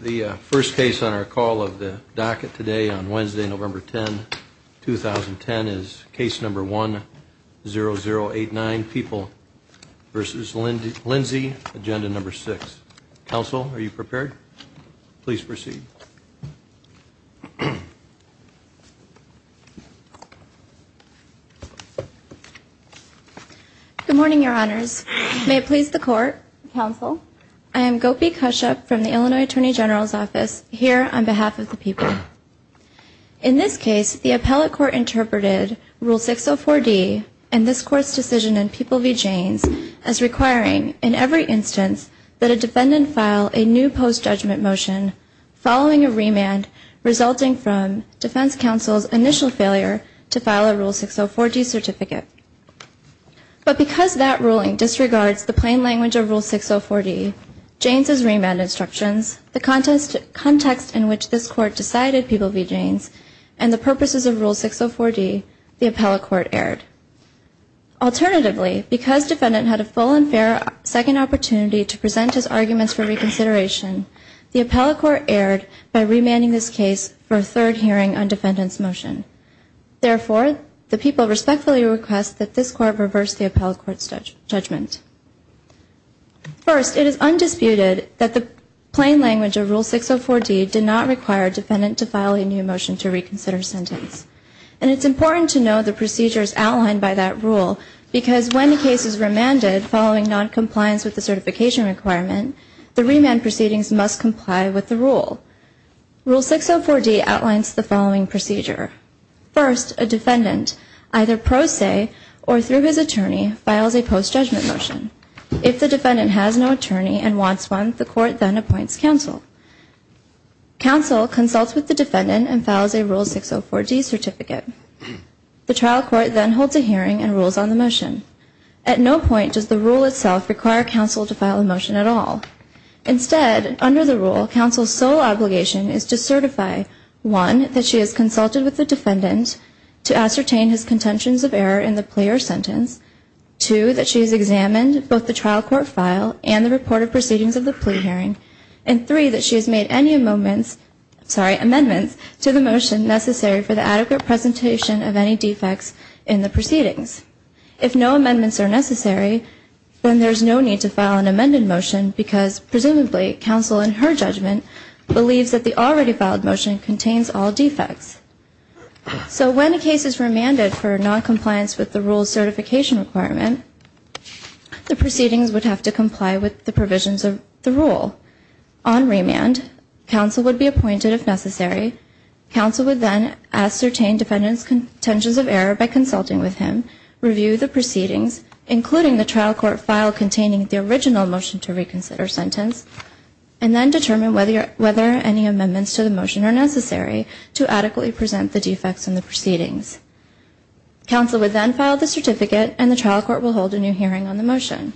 The first case on our call of the docket today on Wednesday, November 10, 2010, is case number 10089, People v. Lindsay, Agenda No. 6. Counsel, are you prepared? Please proceed. Good morning, Your Honors. May it please the Court, Counsel, I am Gopi Kashyap from the Illinois Attorney General's Office, here on behalf of the people. In this case, the appellate court interpreted Rule 604D and this Court's decision in People v. Jaynes as requiring, in every instance, that a defendant file a new post-judgment motion following a remand resulting from defense counsel's initial failure to file a Rule 604D certificate. But because that ruling disregards the plain language of Rule 604D, Jaynes' remand instructions, the context in which this Court decided People v. Jaynes, and the purposes of Rule 604D, the appellate court erred. Alternatively, because defendant had a full and fair second opportunity to present his arguments for reconsideration, the appellate court erred by remanding this case for a third hearing on defendant's motion. Therefore, the People respectfully request that this Court reverse the appellate court's judgment. First, it is undisputed that the plain language of Rule 604D did not require defendant to file a new motion to reconsider sentence. And it's important to know the procedures outlined by that rule, because when the case is remanded following noncompliance with the certification requirement, the remand proceedings must comply with the rule. Rule 604D outlines the following procedure. First, a defendant, either pro se or through his attorney, files a post-judgment motion. If the defendant has no attorney and wants one, the Court then appoints counsel. Counsel consults with the defendant and files a Rule 604D certificate. The trial court then holds a hearing and rules on the motion. At no point does the rule itself require counsel to file a motion at all. Instead, under the rule, counsel's sole obligation is to certify, one, that she has consulted with the defendant to ascertain his contentions of error in the plea or sentence, two, that she has examined both the trial court file and the reported proceedings of the plea hearing, and three, that she has made any amendments to the motion necessary for the adequate presentation of any defects in the proceedings. If no amendments are necessary, then there's no need to file an amended motion because, presumably, counsel, in her judgment, believes that the already filed motion contains all defects. So when a case is remanded for noncompliance with the rule's certification requirement, the proceedings would have to comply with the provisions of the rule. On remand, counsel would be appointed if necessary. Counsel would then ascertain defendant's contentions of error by consulting with him, review the proceedings, including the trial court file containing the original motion to reconsider sentence, and then determine whether any amendments to the motion are necessary to adequately present the defects in the proceedings. Counsel would then file the certificate, and the trial court will hold a new hearing on the motion.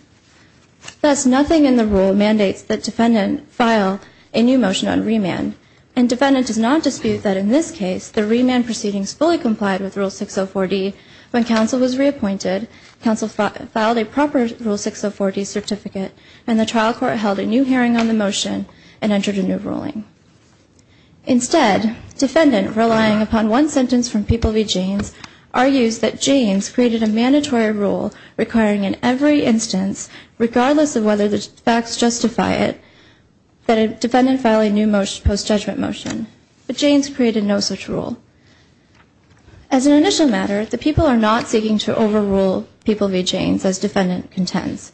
Thus, nothing in the rule mandates that defendant file a new motion on remand, and defendant does not dispute that, in this case, the remand proceedings fully complied with Rule 604D. When counsel was reappointed, counsel filed a proper Rule 604D certificate, and the trial court held a new hearing on the motion and entered a new ruling. Instead, defendant, relying upon one sentence from People v. Janes, argues that Janes created a mandatory rule requiring in every instance, regardless of whether the facts justify it, that a defendant file a new post-judgment motion, but Janes created no such rule. As an initial matter, the people are not seeking to overrule People v. Janes as defendant contends.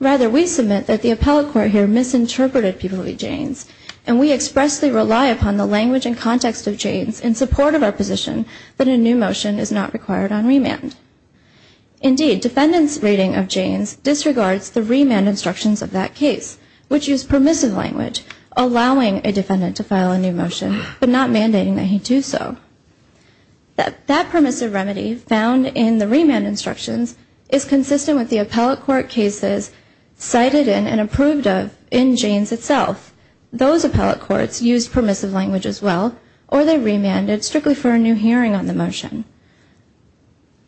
Rather, we submit that the appellate court here misinterpreted People v. Janes, and we expressly rely upon the language and context of Janes in support of our position that a new motion is not required on remand. Indeed, defendant's rating of Janes disregards the remand instructions of that case, which use permissive language, allowing a defendant to file a new motion, but not mandating that he do so. That permissive remedy found in the remand instructions is consistent with the appellate court cases cited in and approved of in Janes itself. Those appellate courts used permissive language as well, or they remanded strictly for a new hearing on the motion.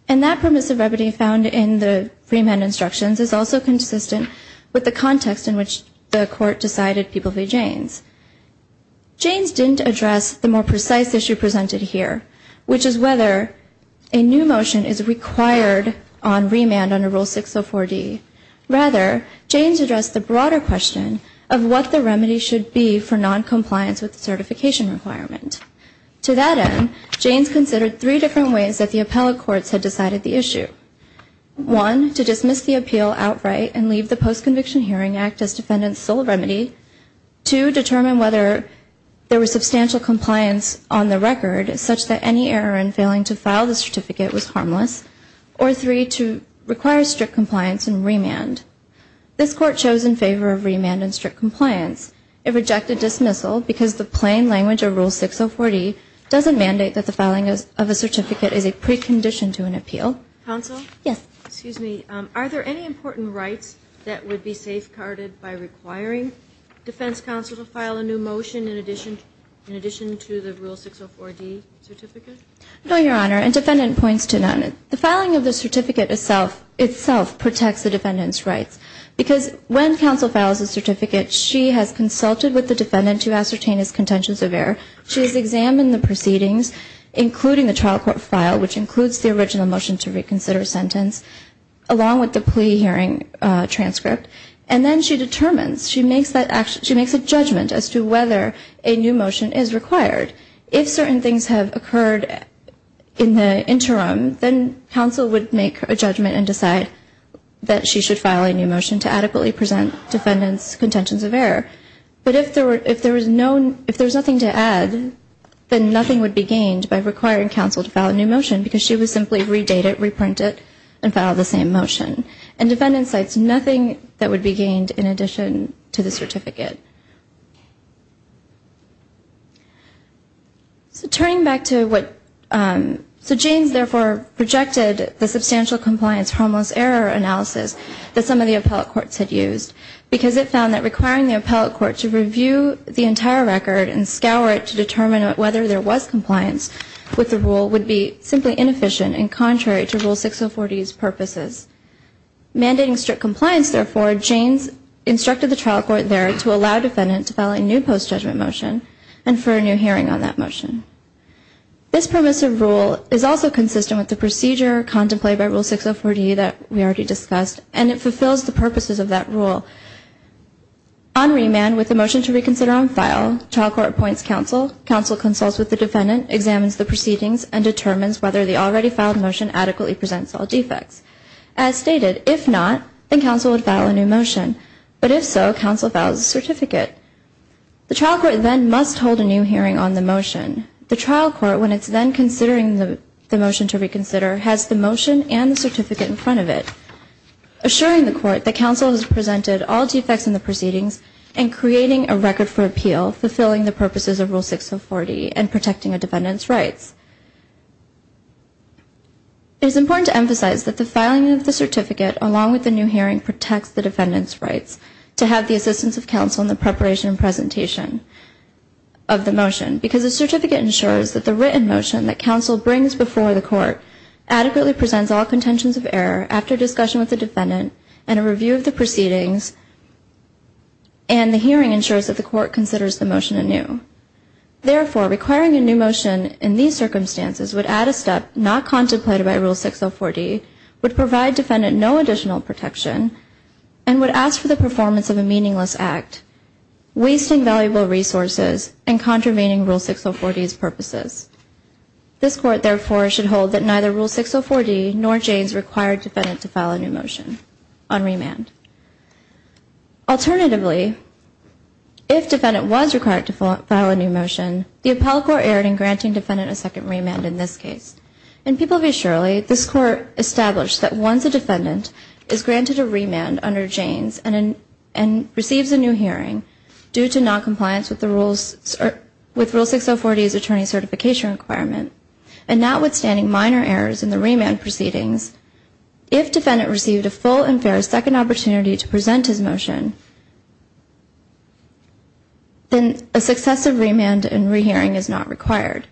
And that permissive remedy found in the remand instructions is also consistent with the context in which the court decided People v. Janes. Janes didn't address the more precise issue presented here, which is whether a new motion is required on remand under Rule 604D. Rather, Janes addressed the broader question of what the remedy should be for noncompliance with the certification requirement. To that end, Janes considered three different ways that the appellate courts had decided the issue. One, to dismiss the appeal outright and leave the postconviction hearing act as defendant's sole remedy. Two, determine whether there was substantial compliance on the record, such that any error in failing to file the certificate was harmless. Or three, to require strict compliance and remand. This court chose in favor of remand and strict compliance. It rejected dismissal because the plain language of Rule 604D doesn't mandate that the filing of a certificate is a precondition to an appeal. Counsel? Yes. Excuse me. Are there any important rights that would be safeguarded by requiring defense counsel to file a new motion in addition to the Rule 604D certificate? No, Your Honor. And defendant points to none. The filing of the certificate itself protects the defendant's rights. Because when counsel files a certificate, she has consulted with the defendant to ascertain his contentions of error. She has examined the proceedings, including the trial court file, which includes the original motion to reconsider a sentence, along with the plea hearing transcript. And then she determines, she makes a judgment as to whether a new motion is required. If certain things have occurred in the interim, then counsel would make a judgment and decide that she should file a new motion to adequately present defendant's contentions of error. But if there was nothing to add, then nothing would be gained by requiring counsel to file a new motion, because she would simply redate it, reprint it, and file the same motion. And defendant cites nothing that would be gained in addition to the certificate. So turning back to what, so James therefore projected the substantial compliance harmless error analysis that some of the appellate courts had used, because it found that requiring the appellate court to review the entire record and scour it to determine whether there was compliance with the rule would be simply inefficient and contrary to Rule 604D's purposes. Mandating strict compliance, therefore, James instructed the trial court there to allow defendant to file a new post-judgment motion and for a new hearing on that motion. This permissive rule is also consistent with the procedure contemplated by Rule 604D that we already discussed, and it fulfills the purposes of that rule. On remand, with the motion to reconsider on file, trial court appoints counsel. Counsel consults with the defendant, examines the proceedings, and determines whether the already filed motion adequately presents all defects. As stated, if not, then counsel would file a new motion. But if so, counsel files a certificate. The trial court then must hold a new hearing on the motion. The trial court, when it's then considering the motion to reconsider, has the motion and the certificate in front of it, assuring the court that counsel has presented all defects in the proceedings and creating a record for appeal, fulfilling the purposes of Rule 604D and protecting a defendant's rights. It is important to emphasize that the filing of the certificate, along with the new hearing, protects the defendant's rights to have the assistance of counsel in the preparation and presentation of the motion, because the certificate ensures that the written motion that counsel brings before the court adequately presents all contentions of error after discussion with the defendant and a review of the proceedings, and the hearing ensures that the court considers the motion anew. Therefore, requiring a new motion in these circumstances would add a step not contemplated by Rule 604D, would provide defendant no additional protection, and would ask for the performance of a meaningless act, wasting valuable resources and contravening Rule 604D's purposes. This court, therefore, should hold that neither Rule 604D nor Janes required defendant to file a new motion on remand. Alternatively, if defendant was required to file a new motion, the appellate court erred in granting defendant a second remand in this case. In People v. Shirley, this court established that once a defendant is granted a remand under Janes and receives a new hearing due to noncompliance with Rule 604D's attorney certification requirement, and notwithstanding minor errors in the remand proceedings, if defendant received a full and fair second opportunity to present his motion, then a successive remand and rehearing is not required.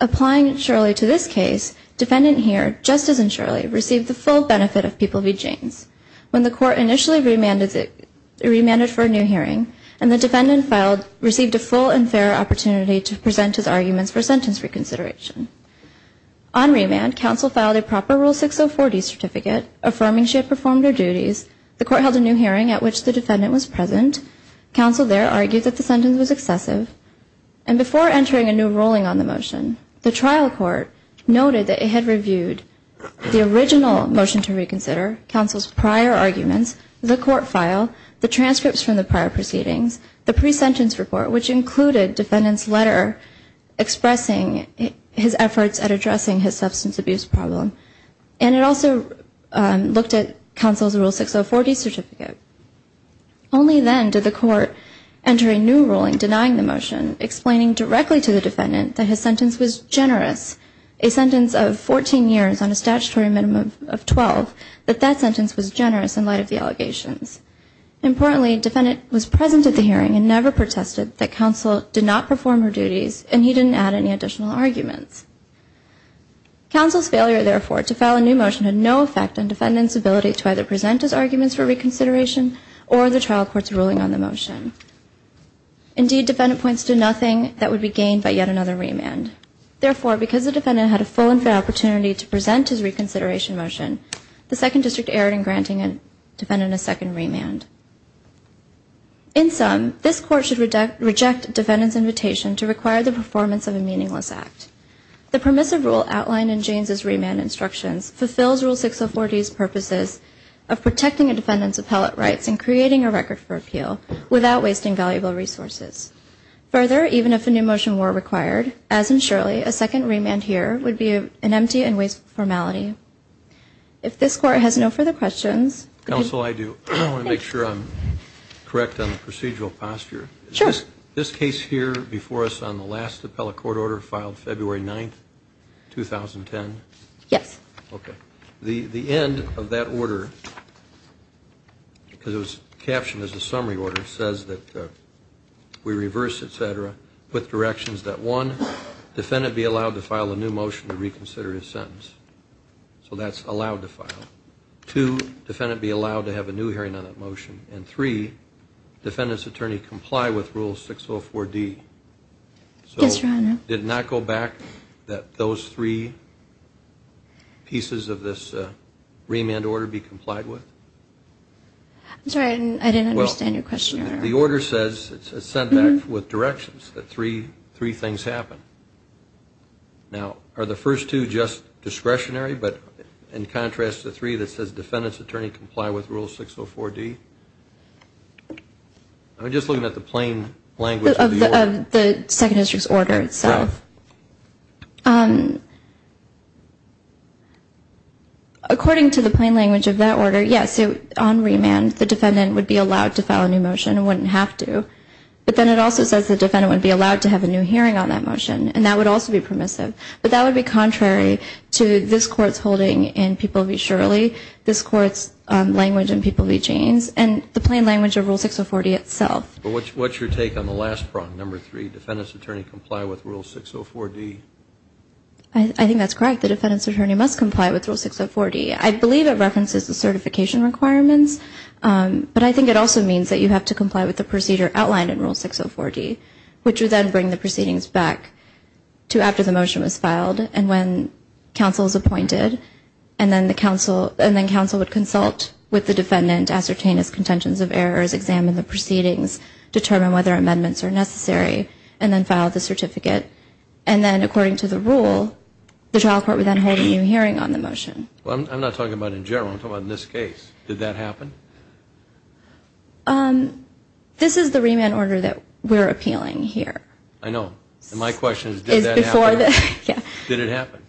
Applying Shirley to this case, defendant here, just as in Shirley, received the full benefit of People v. Janes. When the court initially remanded for a new hearing, and the defendant received a full and fair opportunity to present his arguments for sentence reconsideration. On remand, counsel filed a proper Rule 604D certificate affirming she had performed her duties. The court held a new hearing at which the defendant was present. Counsel there argued that the sentence was excessive. And before entering a new ruling on the motion, the court filed the transcripts from the prior proceedings, the pre-sentence report, which included defendant's letter expressing his efforts at addressing his substance abuse problem. And it also looked at counsel's Rule 604D certificate. Only then did the court enter a new ruling denying the motion, explaining directly to the defendant that his sentence was generous, a sentence of 14 years on a statutory minimum of 12, that that sentence was generous in light of the allegations. Importantly, defendant was present at the hearing and never protested that counsel did not perform her duties, and he didn't add any additional arguments. Counsel's failure, therefore, to file a new motion had no effect on defendant's ability to either present his arguments for reconsideration or the trial court's ruling on the motion. Indeed, defendant points to nothing that would be gained by yet another remand. Therefore, because the defendant had a full and fair opportunity to present his reconsideration motion, the Second District erred in granting defendant a second remand. In sum, this court should reject defendant's invitation to require the performance of a meaningless act. The permissive rule outlined in James' remand instructions fulfills Rule 604D's purposes of protecting a defendant's appellate rights and creating a record for appeal without wasting valuable resources. Further, even if a new motion were required, as in Shirley, a second remand here would be an empty and wasteful formality. If this court has no further questions... Counsel, I do. I want to make sure I'm correct on the procedural posture. Sure. Is this case here before us on the last appellate court order filed February 9th, 2010? Yes. Okay. The end of that order, because it was captioned as a summary order, says that we reverse, et cetera, with directions that, one, defendant be allowed to file a new motion to reconsider his sentence. So that's allowed to file. Two, defendant be allowed to have a new hearing on that motion. And three, defendant's attorney comply with Rule 604D. Yes, Your Honor. So did it not go back that those three pieces of this remand order be complied with? I didn't understand your question, Your Honor. The order says it's sent back with directions that three things happen. Now, are the first two just discretionary, but in contrast to the three that says defendant's attorney comply with Rule 604D? I'm just looking at the plain language of the order. Of the Second District's order itself. Correct. According to the plain language of that order, yes, on remand, the defendant would be allowed to file a new motion and wouldn't have to. But then it also says the defendant would be allowed to have a new hearing on that motion, and that would also be permissive. But that would be contrary to this Court's holding in People v. Shirley, this Court's language in People v. James, and the plain language of Rule 604D itself. But what's your take on the last prong, number three, defendant's attorney comply with Rule 604D? I think that's correct. The defendant's attorney must comply with Rule 604D. I believe it references the certification requirements, but I think it also means that you have to comply with the procedure outlined in Rule 604D, which would then bring the proceedings back to after the motion was filed and when counsel is appointed, and then counsel would consult with the defendant, ascertain his contentions of errors, examine the proceedings, determine whether amendments are necessary, and then file the certificate. And then according to the rule, the trial court would then hold a new hearing on the motion. Well, I'm not talking about in general. I'm talking about in this case. Did that happen? This is the remand order that we're appealing here. I know. And my question is did that happen? Did it happen?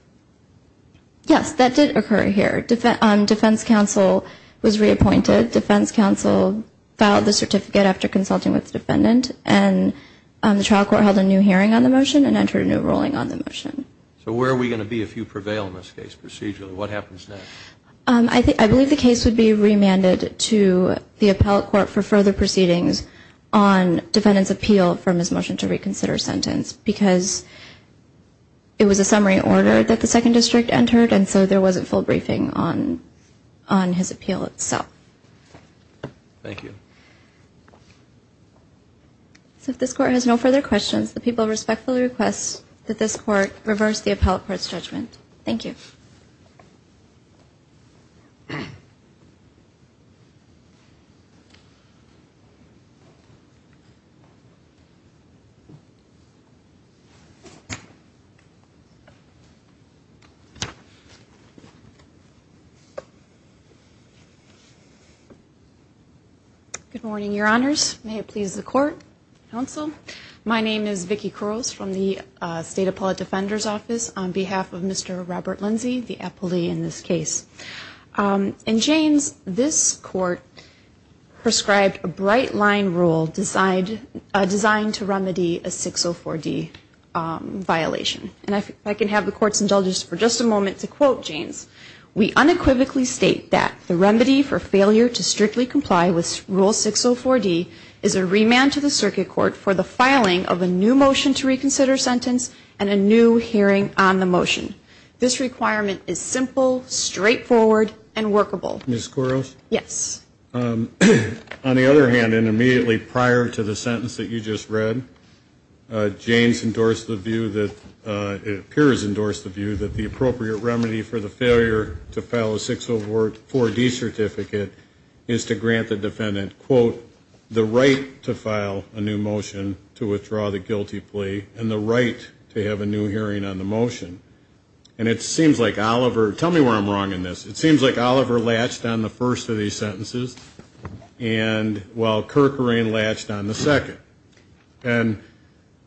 Yes, that did occur here. Defense counsel was reappointed. Defense counsel filed the certificate after consulting with the defendant, and the trial court held a new hearing on the motion and entered a new ruling on the motion. So where are we going to be if you prevail in this case procedurally? What happens next? I believe the case would be remanded to the appellate court for further proceedings on defendant's appeal from his motion to reconsider sentence because it was a summary order that the second district entered and so there wasn't full briefing on his appeal itself. Thank you. So if this court has no further questions, Thank you. Good morning, Your Honors. May it please the court, counsel. My name is Vicki Kurles from the State Appellate Defender's Office on behalf of Mr. Robert Lindsey, the appellee in this case. In Jaynes, this court prescribed a bright line rule designed to remedy a 604D violation. And if I can have the court's indulgence for just a moment to quote Jaynes. We unequivocally state that the remedy for failure to strictly comply with Rule 604D is a remand to the circuit court for the filing of a new motion to reconsider sentence and a new hearing on the motion. This requirement is simple, straightforward, and workable. Ms. Kurles? Yes. On the other hand, and immediately prior to the sentence that you just read, Jaynes endorsed the view that the appropriate remedy for the failure to file a 604D certificate is to grant the defendant, quote, the right to file a new motion to withdraw the guilty plea and the right to have a new hearing on the motion. And it seems like Oliver, tell me where I'm wrong in this, it seems like Oliver latched on the first of these sentences while Kerkerine latched on the second. And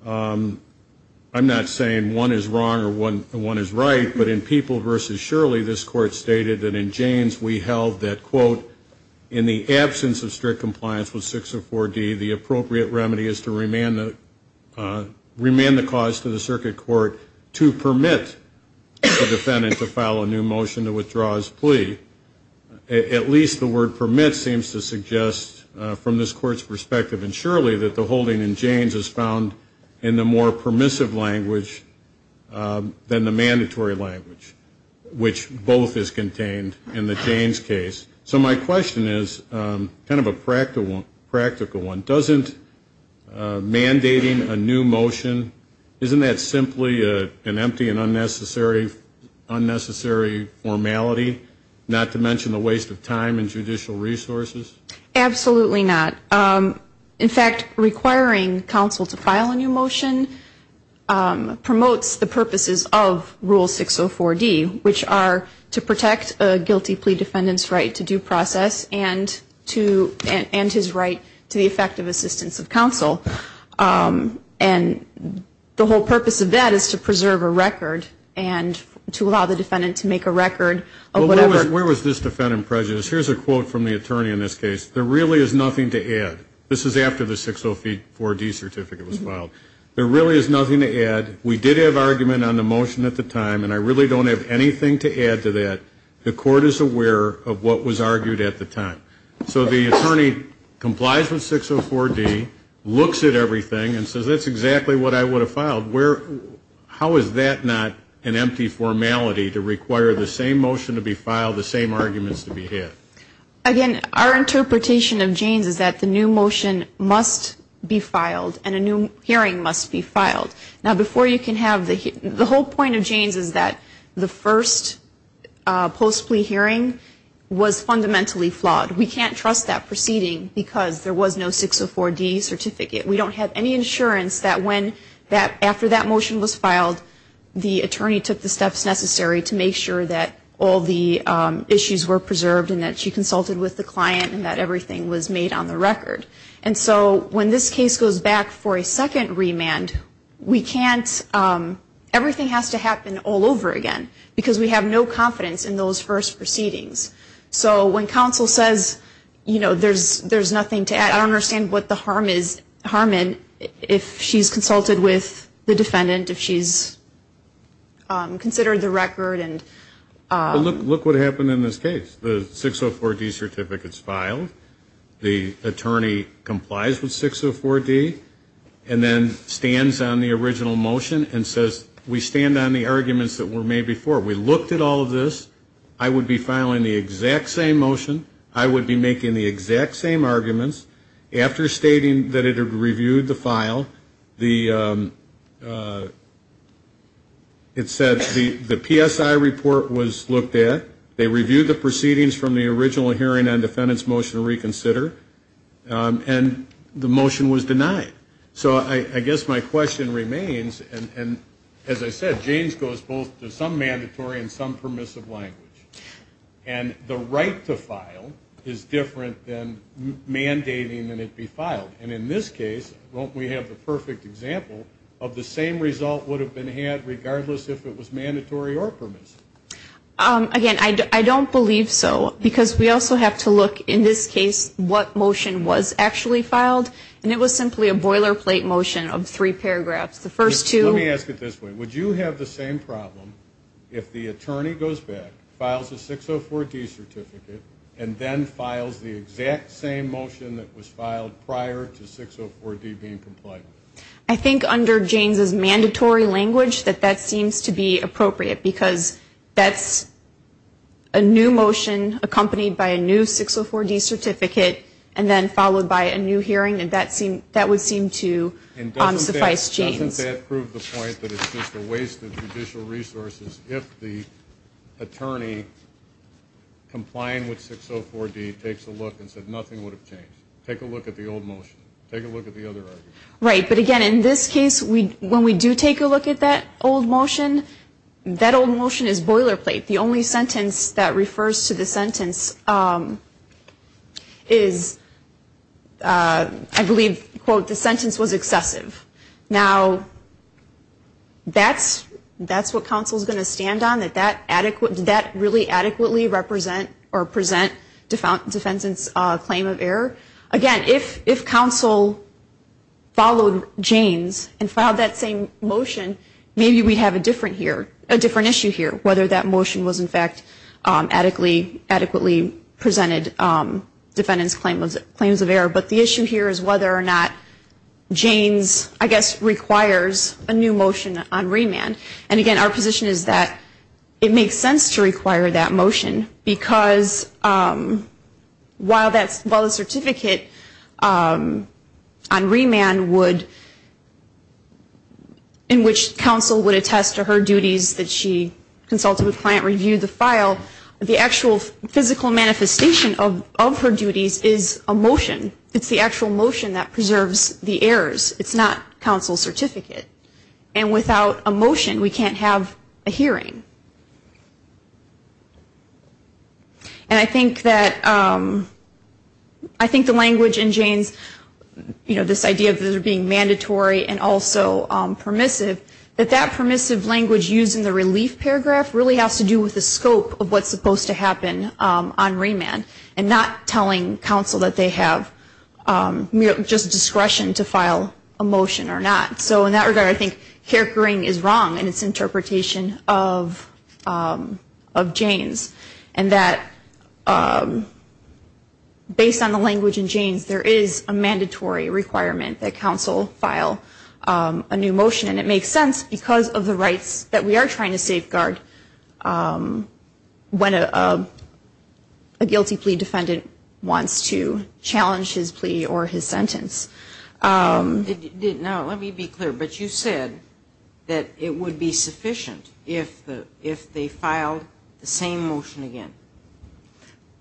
I'm not saying one is wrong or one is right, but in People v. Shirley this court stated that in Jaynes we held that, quote, in the absence of strict compliance with 604D, the appropriate remedy is to remand the cause to the circuit court to permit the defendant to file a new motion to withdraw his plea. At least the word permit seems to suggest from this court's perspective and surely that the holding in Jaynes is found in the more permissive language than the mandatory language, which both is contained in the Jaynes case. So my question is kind of a practical one, doesn't mandating a new motion, isn't that simply an empty and unnecessary formality, not to mention the waste of time and judicial resources? Absolutely not. In fact, requiring counsel to file a new motion promotes the purposes of Rule 604D, which are to protect a guilty plea defendant's right to due process and his right to the effective assistance of counsel. And the whole purpose of that is to preserve a record and to allow the defendant to make a record of whatever. Where was this defendant prejudiced? Here's a quote from the attorney in this case. There really is nothing to add. This is after the 604D certificate was filed. There really is nothing to add. We did have argument on the motion at the time, and I really don't have anything to add to that. The court is aware of what was argued at the time. So the attorney complies with 604D, looks at everything, and says that's exactly what I would have filed. How is that not an empty formality to require the same motion to be filed, the same arguments to be had? Again, our interpretation of Jaynes is that the new motion must be filed and a new hearing must be filed. Now, before you can have the hearing, the whole point of Jaynes is that the first post-plea hearing was fundamentally flawed. We can't trust that proceeding because there was no 604D certificate. We don't have any insurance that after that motion was filed, the attorney took the steps necessary to make sure that all the issues were preserved and that she consulted with the client and that everything was made on the record. And so when this case goes back for a second remand, we can't ‑‑ everything has to happen all over again because we have no confidence in those first proceedings. So when counsel says, you know, there's nothing to add, I don't understand what the harm is, harm in if she's consulted with the defendant, if she's considered the record. Look what happened in this case. The 604D certificate is filed. The attorney complies with 604D and then stands on the original motion and says we stand on the arguments that were made before. We looked at all of this. I would be filing the exact same motion. I would be making the exact same arguments. After stating that it had reviewed the file, it said the PSI report was looked at. They reviewed the proceedings from the original hearing on defendant's motion to reconsider. And the motion was denied. So I guess my question remains, and as I said, James goes both to some mandatory and some permissive language. And the right to file is different than mandating that it be filed. And in this case, won't we have the perfect example of the same result would have been had regardless if it was mandatory or permissive? Again, I don't believe so because we also have to look, in this case, what motion was actually filed. And it was simply a boilerplate motion of three paragraphs. Let me ask it this way. Would you have the same problem if the attorney goes back, files a 604D certificate, and then files the exact same motion that was filed prior to 604D being complied with? I think under James's mandatory language that that seems to be appropriate because that's a new motion accompanied by a new 604D certificate and then followed by a new hearing, and that would seem to suffice James. Doesn't that prove the point that it's just a waste of judicial resources if the attorney complying with 604D takes a look and says nothing would have changed? Take a look at the old motion. Take a look at the other argument. Right, but again, in this case, when we do take a look at that old motion, that old motion is boilerplate. The only sentence that refers to the sentence is, I believe, quote, the sentence was excessive. Now, that's what counsel is going to stand on, that that really adequately represent or present defendant's claim of error. Again, if counsel followed James and filed that same motion, maybe we'd have a different issue here, whether that motion was, in fact, adequately presented defendant's claims of error. But the issue here is whether or not James, I guess, requires a new motion on remand. And again, our position is that it makes sense to require that motion because while the certificate on remand would, in which counsel would attest to her duties that she consulted with client review the file, the actual physical manifestation of her duties is a motion. It's the actual motion that preserves the errors. It's not counsel's certificate. And without a motion, we can't have a hearing. And I think that the language in James, you know, this idea of those being mandatory and also permissive, that that permissive language used in the relief paragraph really has to do with the scope of what's supposed to happen on remand and not telling counsel that they have just discretion to file a motion or not. So in that regard, I think Hickering is wrong in its interpretation of James and that based on the language in James, there is a mandatory requirement that counsel file a new motion. And it makes sense because of the rights that we are trying to safeguard when a guilty plea defendant wants to challenge his plea or his sentence. Now, let me be clear. But you said that it would be sufficient if they filed the same motion again.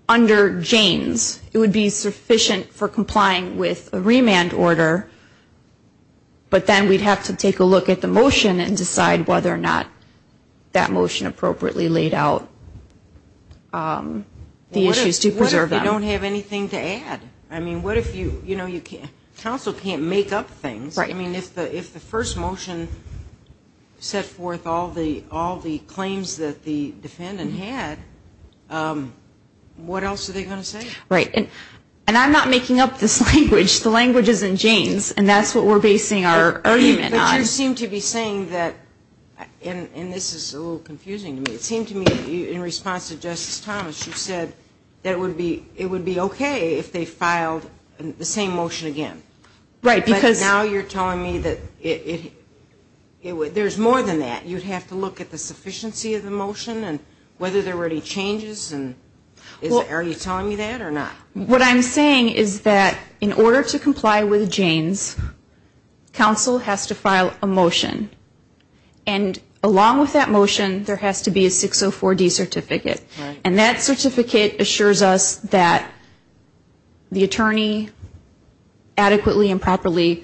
Under James, it would be sufficient for complying with a remand order, but then we'd have to take a look at the motion and decide whether or not that motion appropriately laid out the issues to preserve them. What if we don't have anything to add? I mean, what if you, you know, counsel can't make up things. I mean, if the first motion set forth all the claims that the defendant had, what else are they going to say? Right. And I'm not making up this language. The language is in James, and that's what we're basing our argument on. But you seem to be saying that, and this is a little confusing to me, it seemed to me that in response to Justice Thomas, you said that it would be okay if they filed the same motion again. Right. But now you're telling me that there's more than that. You'd have to look at the sufficiency of the motion and whether there were any changes, and are you telling me that or not? What I'm saying is that in order to comply with James, counsel has to file a motion. And along with that motion, there has to be a 604D certificate. And that certificate assures us that the attorney adequately and properly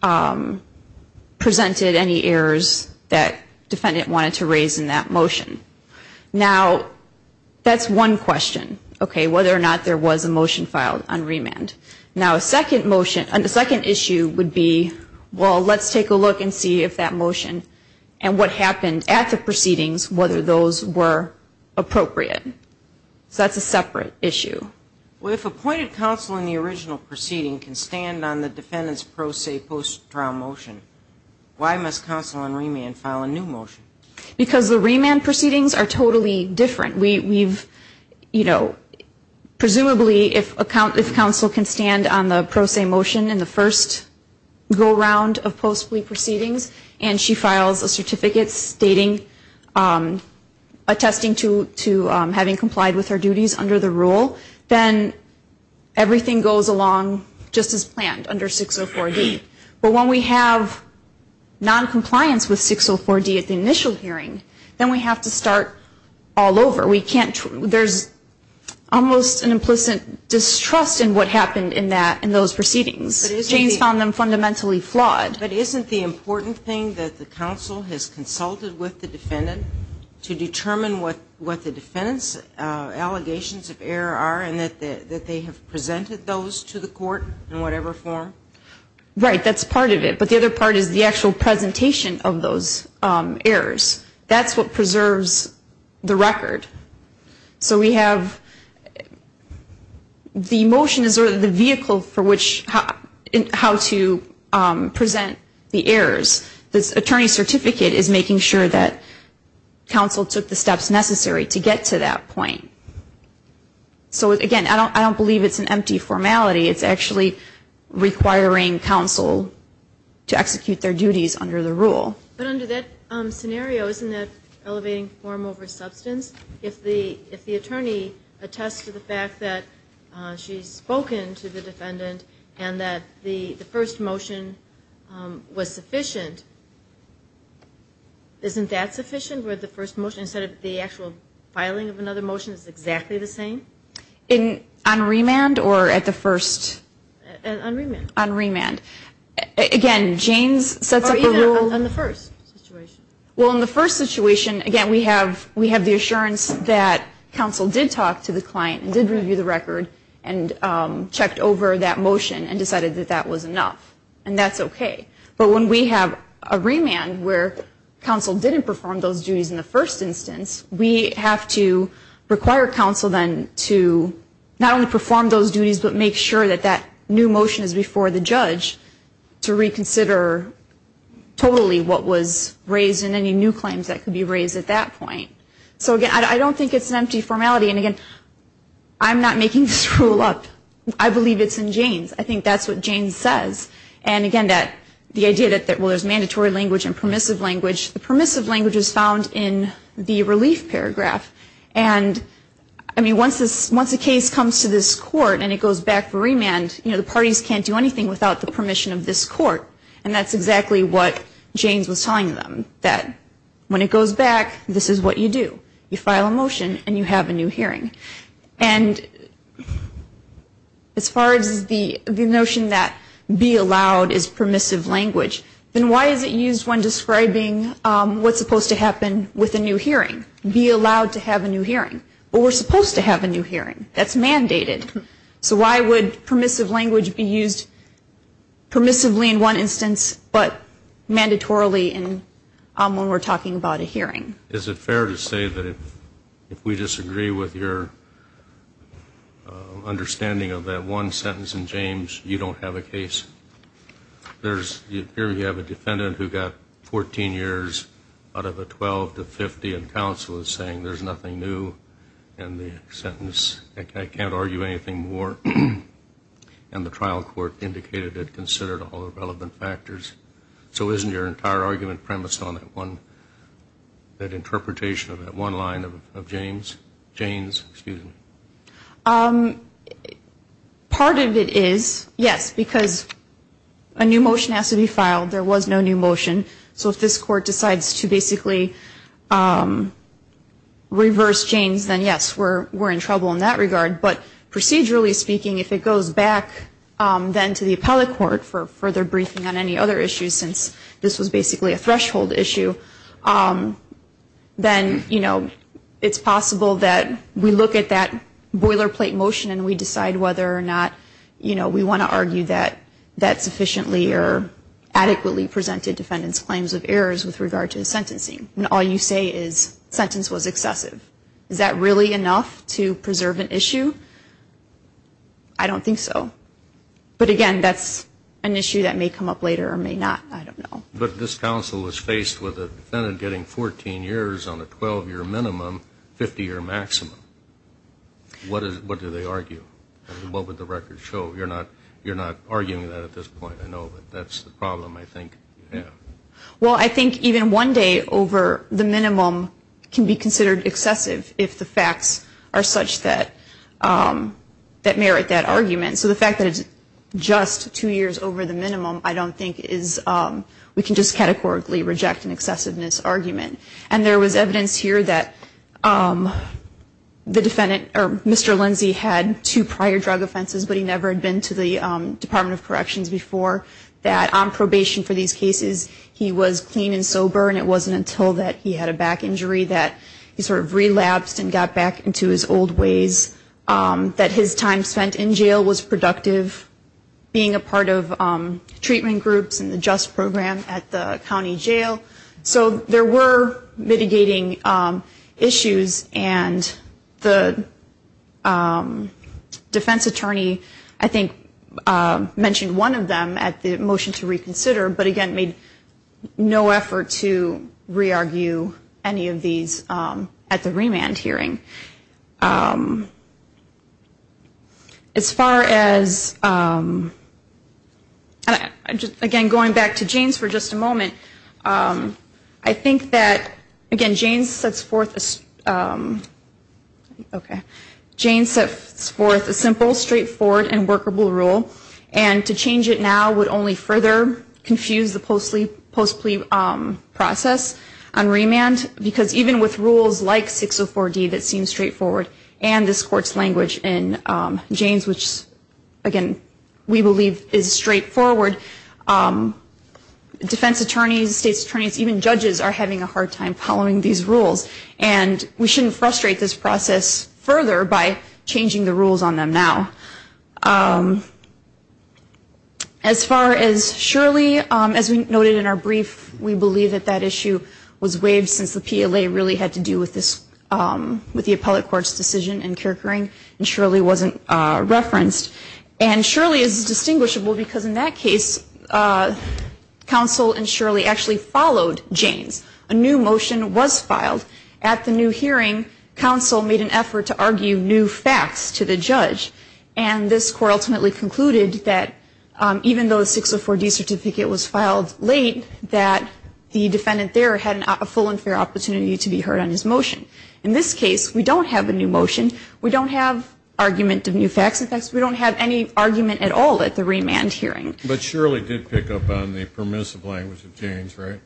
presented any errors that defendant wanted to raise in that motion. Now, that's one question, okay, whether or not there was a motion filed on remand. Now, a second issue would be, well, let's take a look and see if that motion and what happened at the proceedings, whether those were appropriate. So that's a separate issue. Well, if appointed counsel in the original proceeding can stand on the defendant's pro se post-trial motion, why must counsel on remand file a new motion? Because the remand proceedings are totally different. We've, you know, presumably if counsel can stand on the pro se motion in the first go-round of post-plea proceedings and she files a certificate stating, attesting to having complied with her duties under the rule, then everything goes along just as planned under 604D. But when we have noncompliance with 604D at the initial hearing, then we have to start all over. We can't, there's almost an implicit distrust in what happened in that, in those proceedings. James found them fundamentally flawed. But isn't the important thing that the counsel has consulted with the defendant to determine what the defendant's allegations of error are and that they have presented those to the court in whatever form? Right. That's part of it. But the other part is the actual presentation of those errors. That's what preserves the record. So we have the motion is sort of the vehicle for which, how to present the errors. The attorney's certificate is making sure that counsel took the steps necessary to get to that point. So, again, I don't believe it's an empty formality. It's actually requiring counsel to execute their duties under the rule. But under that scenario, isn't that elevating form over substance? If the attorney attests to the fact that she's spoken to the defendant and that the first motion was sufficient, isn't that sufficient, where the first motion instead of the actual filing of another motion is exactly the same? On remand or at the first? On remand. On remand. Again, Janes sets up a rule. Or even on the first situation. Well, in the first situation, again, we have the assurance that counsel did talk to the client and did review the record and checked over that motion and decided that that was enough. And that's okay. But when we have a remand where counsel didn't perform those duties in the first instance, we have to require counsel then to not only perform those duties but make sure that that new motion is before the judge to reconsider totally what was raised and any new claims that could be raised at that point. So, again, I don't think it's an empty formality. And, again, I'm not making this rule up. I believe it's in Janes. I think that's what Janes says. And, again, the idea that, well, there's mandatory language and permissive language. The permissive language is found in the relief paragraph. And, I mean, once a case comes to this court and it goes back for remand, you know, the parties can't do anything without the permission of this court. And that's exactly what Janes was telling them, that when it goes back, this is what you do. You file a motion and you have a new hearing. And as far as the notion that be allowed is permissive language, then why is it used when describing what's supposed to happen with a new hearing? Be allowed to have a new hearing. But we're supposed to have a new hearing. That's mandated. So why would permissive language be used permissively in one instance but mandatorily when we're talking about a hearing? Is it fair to say that if we disagree with your understanding of that one sentence in Janes, you don't have a case? Here you have a defendant who got 14 years out of a 12 to 50 and counsel is saying there's nothing new in the sentence. I can't argue anything more. And the trial court indicated it considered all the relevant factors. So isn't your entire argument premised on that interpretation of that one line of Janes? Part of it is, yes, because a new motion has to be filed. There was no new motion. So if this court decides to basically reverse Janes, then, yes, we're in trouble in that regard. But procedurally speaking, if it goes back then to the appellate court for further briefing on any other issues, since this was basically a threshold issue, then it's possible that we look at that boilerplate motion and we decide whether or not we want to argue that that sufficiently or adequately presented defendant's claims of errors with regard to the sentencing. And all you say is sentence was excessive. Is that really enough to preserve an issue? I don't think so. But, again, that's an issue that may come up later or may not. I don't know. But this counsel was faced with a defendant getting 14 years on a 12-year minimum, 50-year maximum. What do they argue? What would the record show? You're not arguing that at this point. I know that that's the problem, I think. Well, I think even one day over the minimum can be considered excessive if the facts are such that merit that argument. So the fact that it's just two years over the minimum, I don't think we can just categorically reject an excessiveness argument. And there was evidence here that Mr. Lindsey had two prior drug offenses, but he never had been to the Department of Corrections before, that on probation for these cases he was clean and sober, and it wasn't until that he had a back injury that he sort of relapsed and got back into his old ways that his time spent in jail was productive, being a part of treatment groups and the JUST program at the county jail. So there were mitigating issues, and the defense attorney I think mentioned one of them at the motion to reconsider, but again made no effort to re-argue any of these at the remand hearing. As far as, again, going back to Jane's for just a moment, I think that, again, Jane sets forth a simple, straightforward, and workable rule, and to change it now would only further confuse the post-plea process on remand, because even with rules like 604D that seem straightforward, and this Court's language in Jane's which, again, we believe is straightforward, defense attorneys, state attorneys, even judges are having a hard time following these rules, and we shouldn't frustrate this process further by changing the rules on them now. As far as Shirley, as we noted in our brief, we believe that that issue was waived since the PLA really had to do with this, with the appellate court's decision in Kirkherring, and Shirley wasn't referenced. And Shirley is distinguishable because in that case, counsel and Shirley actually followed Jane's. A new motion was filed at the new hearing. Counsel made an effort to argue new facts to the judge, and this Court ultimately concluded that even though a 604D certificate was filed late, that the defendant there had a full and fair opportunity to be heard on his motion. In this case, we don't have a new motion. We don't have argument of new facts. In fact, we don't have any argument at all at the remand hearing. But Shirley did pick up on the permissive language of Jane's, right?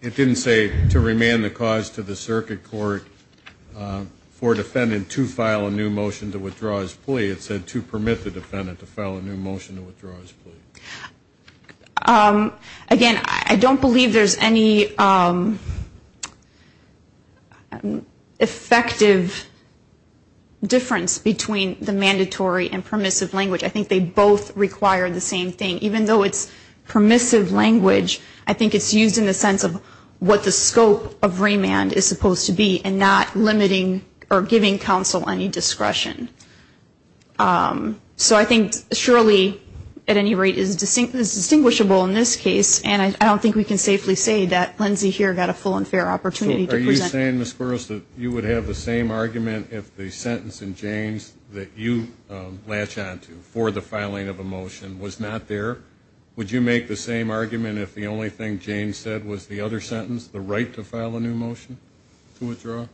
It didn't say to remand the cause to the circuit court for defendant to file a new motion to withdraw his plea. It said to permit the defendant to file a new motion to withdraw his plea. Again, I don't believe there's any effective difference between the mandatory and permissive language. I think they both require the same thing. Even though it's permissive language, I think it's used in the sense of what the scope of remand is supposed to be and not limiting or giving counsel any discretion. So I think Shirley, at any rate, is distinguishable in this case, and I don't think we can safely say that Lindsay here got a full and fair opportunity to present. Are you saying, Ms. Burroughs, that you would have the same argument if the sentence in Jane's that you latch on to for the filing of a motion was not there? Would you make the same argument if the only thing Jane said was the other sentence, the right to file a new motion to withdraw?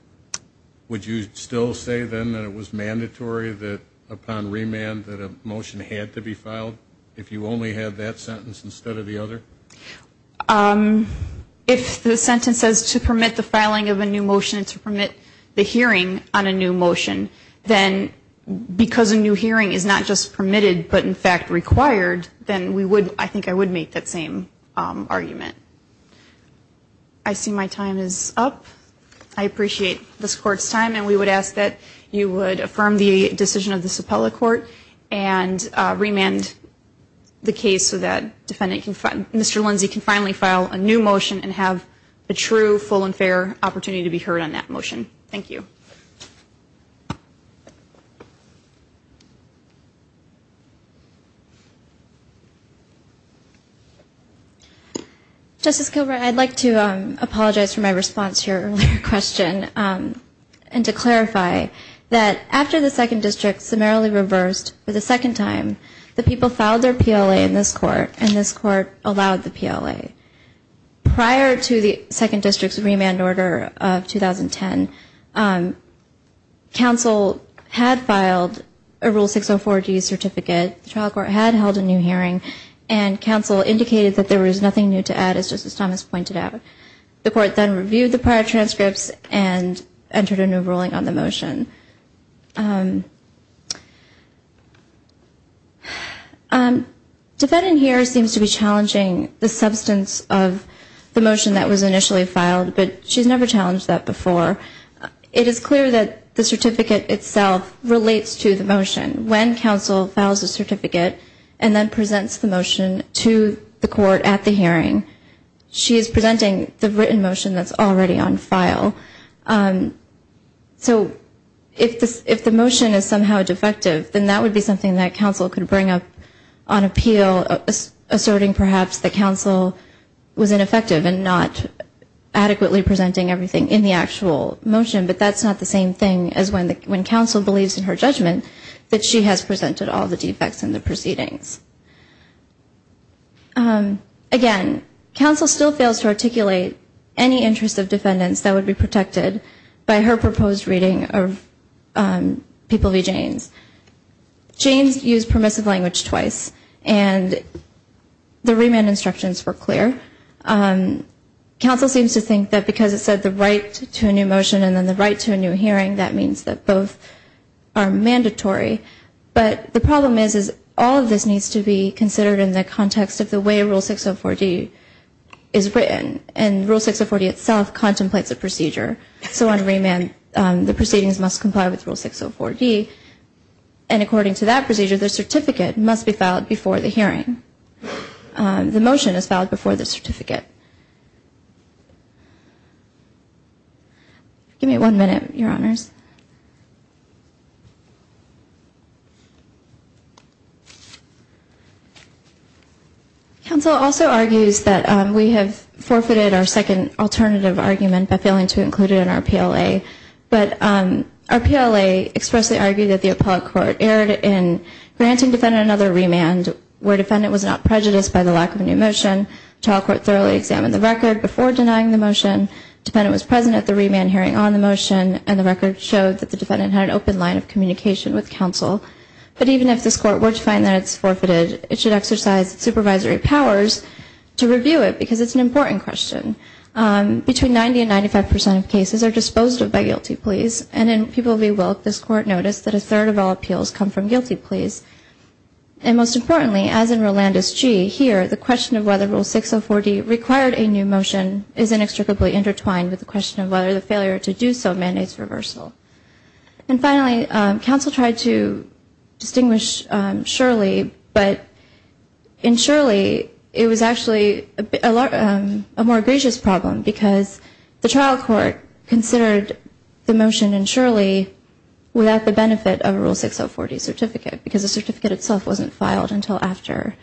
Would you still say then that it was mandatory that upon remand that a motion had to be filed if you only had that sentence instead of the other? If the sentence says to permit the filing of a new motion and to permit the hearing on a new motion, then because a new hearing is not just permitted but, in fact, required, then I think I would make that same argument. I see my time is up. I appreciate this Court's time, and we would ask that you would affirm the decision of this appellate court and remand the case so that Mr. Lindsay can finally file a new motion and have a true, full, and fair opportunity to be heard on that motion. Thank you. Justice Gilbert, I'd like to apologize for my response to your earlier question and to clarify that after the Second District summarily reversed for the second time, the people filed their PLA in this Court, and this Court allowed the PLA. Prior to the Second District's remand order of 2010, counsel had filed a Rule 604G certificate, the trial court had held a new hearing, and counsel indicated that there was nothing new to add, as Justice Thomas pointed out. The Court then reviewed the prior transcripts and entered a new ruling on the motion. Defendant here seems to be challenging the substance of the motion that was initially filed, but she's never challenged that before. It is clear that the certificate itself relates to the motion. When counsel files a certificate and then presents the motion to the Court at the hearing, she is presenting the written motion that's already on file. So if the motion is somehow defective, then that would be something that counsel could bring up on appeal, asserting perhaps that counsel was ineffective and not adequately presenting everything in the actual motion. But that's not the same thing as when counsel believes in her judgment that she has presented all the defects in the proceedings. Again, counsel still fails to articulate any interest of defendants that would be protected by her proposed reading of People v. Jaynes. Jaynes used permissive language twice, and the remand instructions were clear. Counsel seems to think that because it said the right to a new motion and then the right to a new hearing, that means that both are mandatory. But the problem is, is all of this needs to be considered in the context of the way Rule 604D is written, and Rule 604D itself contemplates a procedure. So on remand, the proceedings must comply with Rule 604D, and according to that procedure, the certificate must be filed before the hearing. The motion is filed before the certificate. Give me one minute, Your Honors. Counsel also argues that we have forfeited our second alternative argument by failing to include it in our PLA. But our PLA expressly argued that the appellate court erred in granting defendant another remand, where defendant was not prejudiced by the lack of a new motion, trial court thoroughly examined the record before denying the motion, defendant was present at the remand hearing on the motion, and the record showed that the defendant had an open line of communication with counsel, but even if this court were to find that it's forfeited, it should exercise its supervisory powers to review it, because it's an important question. Between 90 and 95 percent of cases are disposed of by guilty pleas, and in People v. Wilk, this court noticed that a third of all appeals come from guilty pleas. And most importantly, as in Rolandus G. here, the question of whether Rule 604D required a new motion is inextricably intertwined with the question of whether the failure to do so mandates reversal. And finally, counsel tried to distinguish Shirley, but in Shirley it was actually a more egregious problem, because the trial court considered the motion in Shirley without the benefit of a Rule 604D certificate, because the certificate itself wasn't filed until after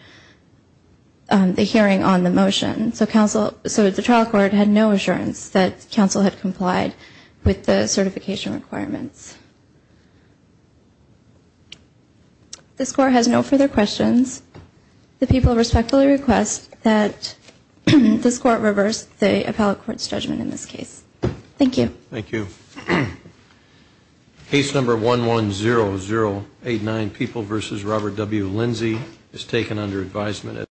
the hearing on the motion. So the trial court had no assurance that counsel had complied with the certification requirements. This court has no further questions. The people respectfully request that this court reverse the appellate court's judgment in this case. Thank you. Thank you. Case number 110089, People v. Robert W. Lindsay, is taken under advisement.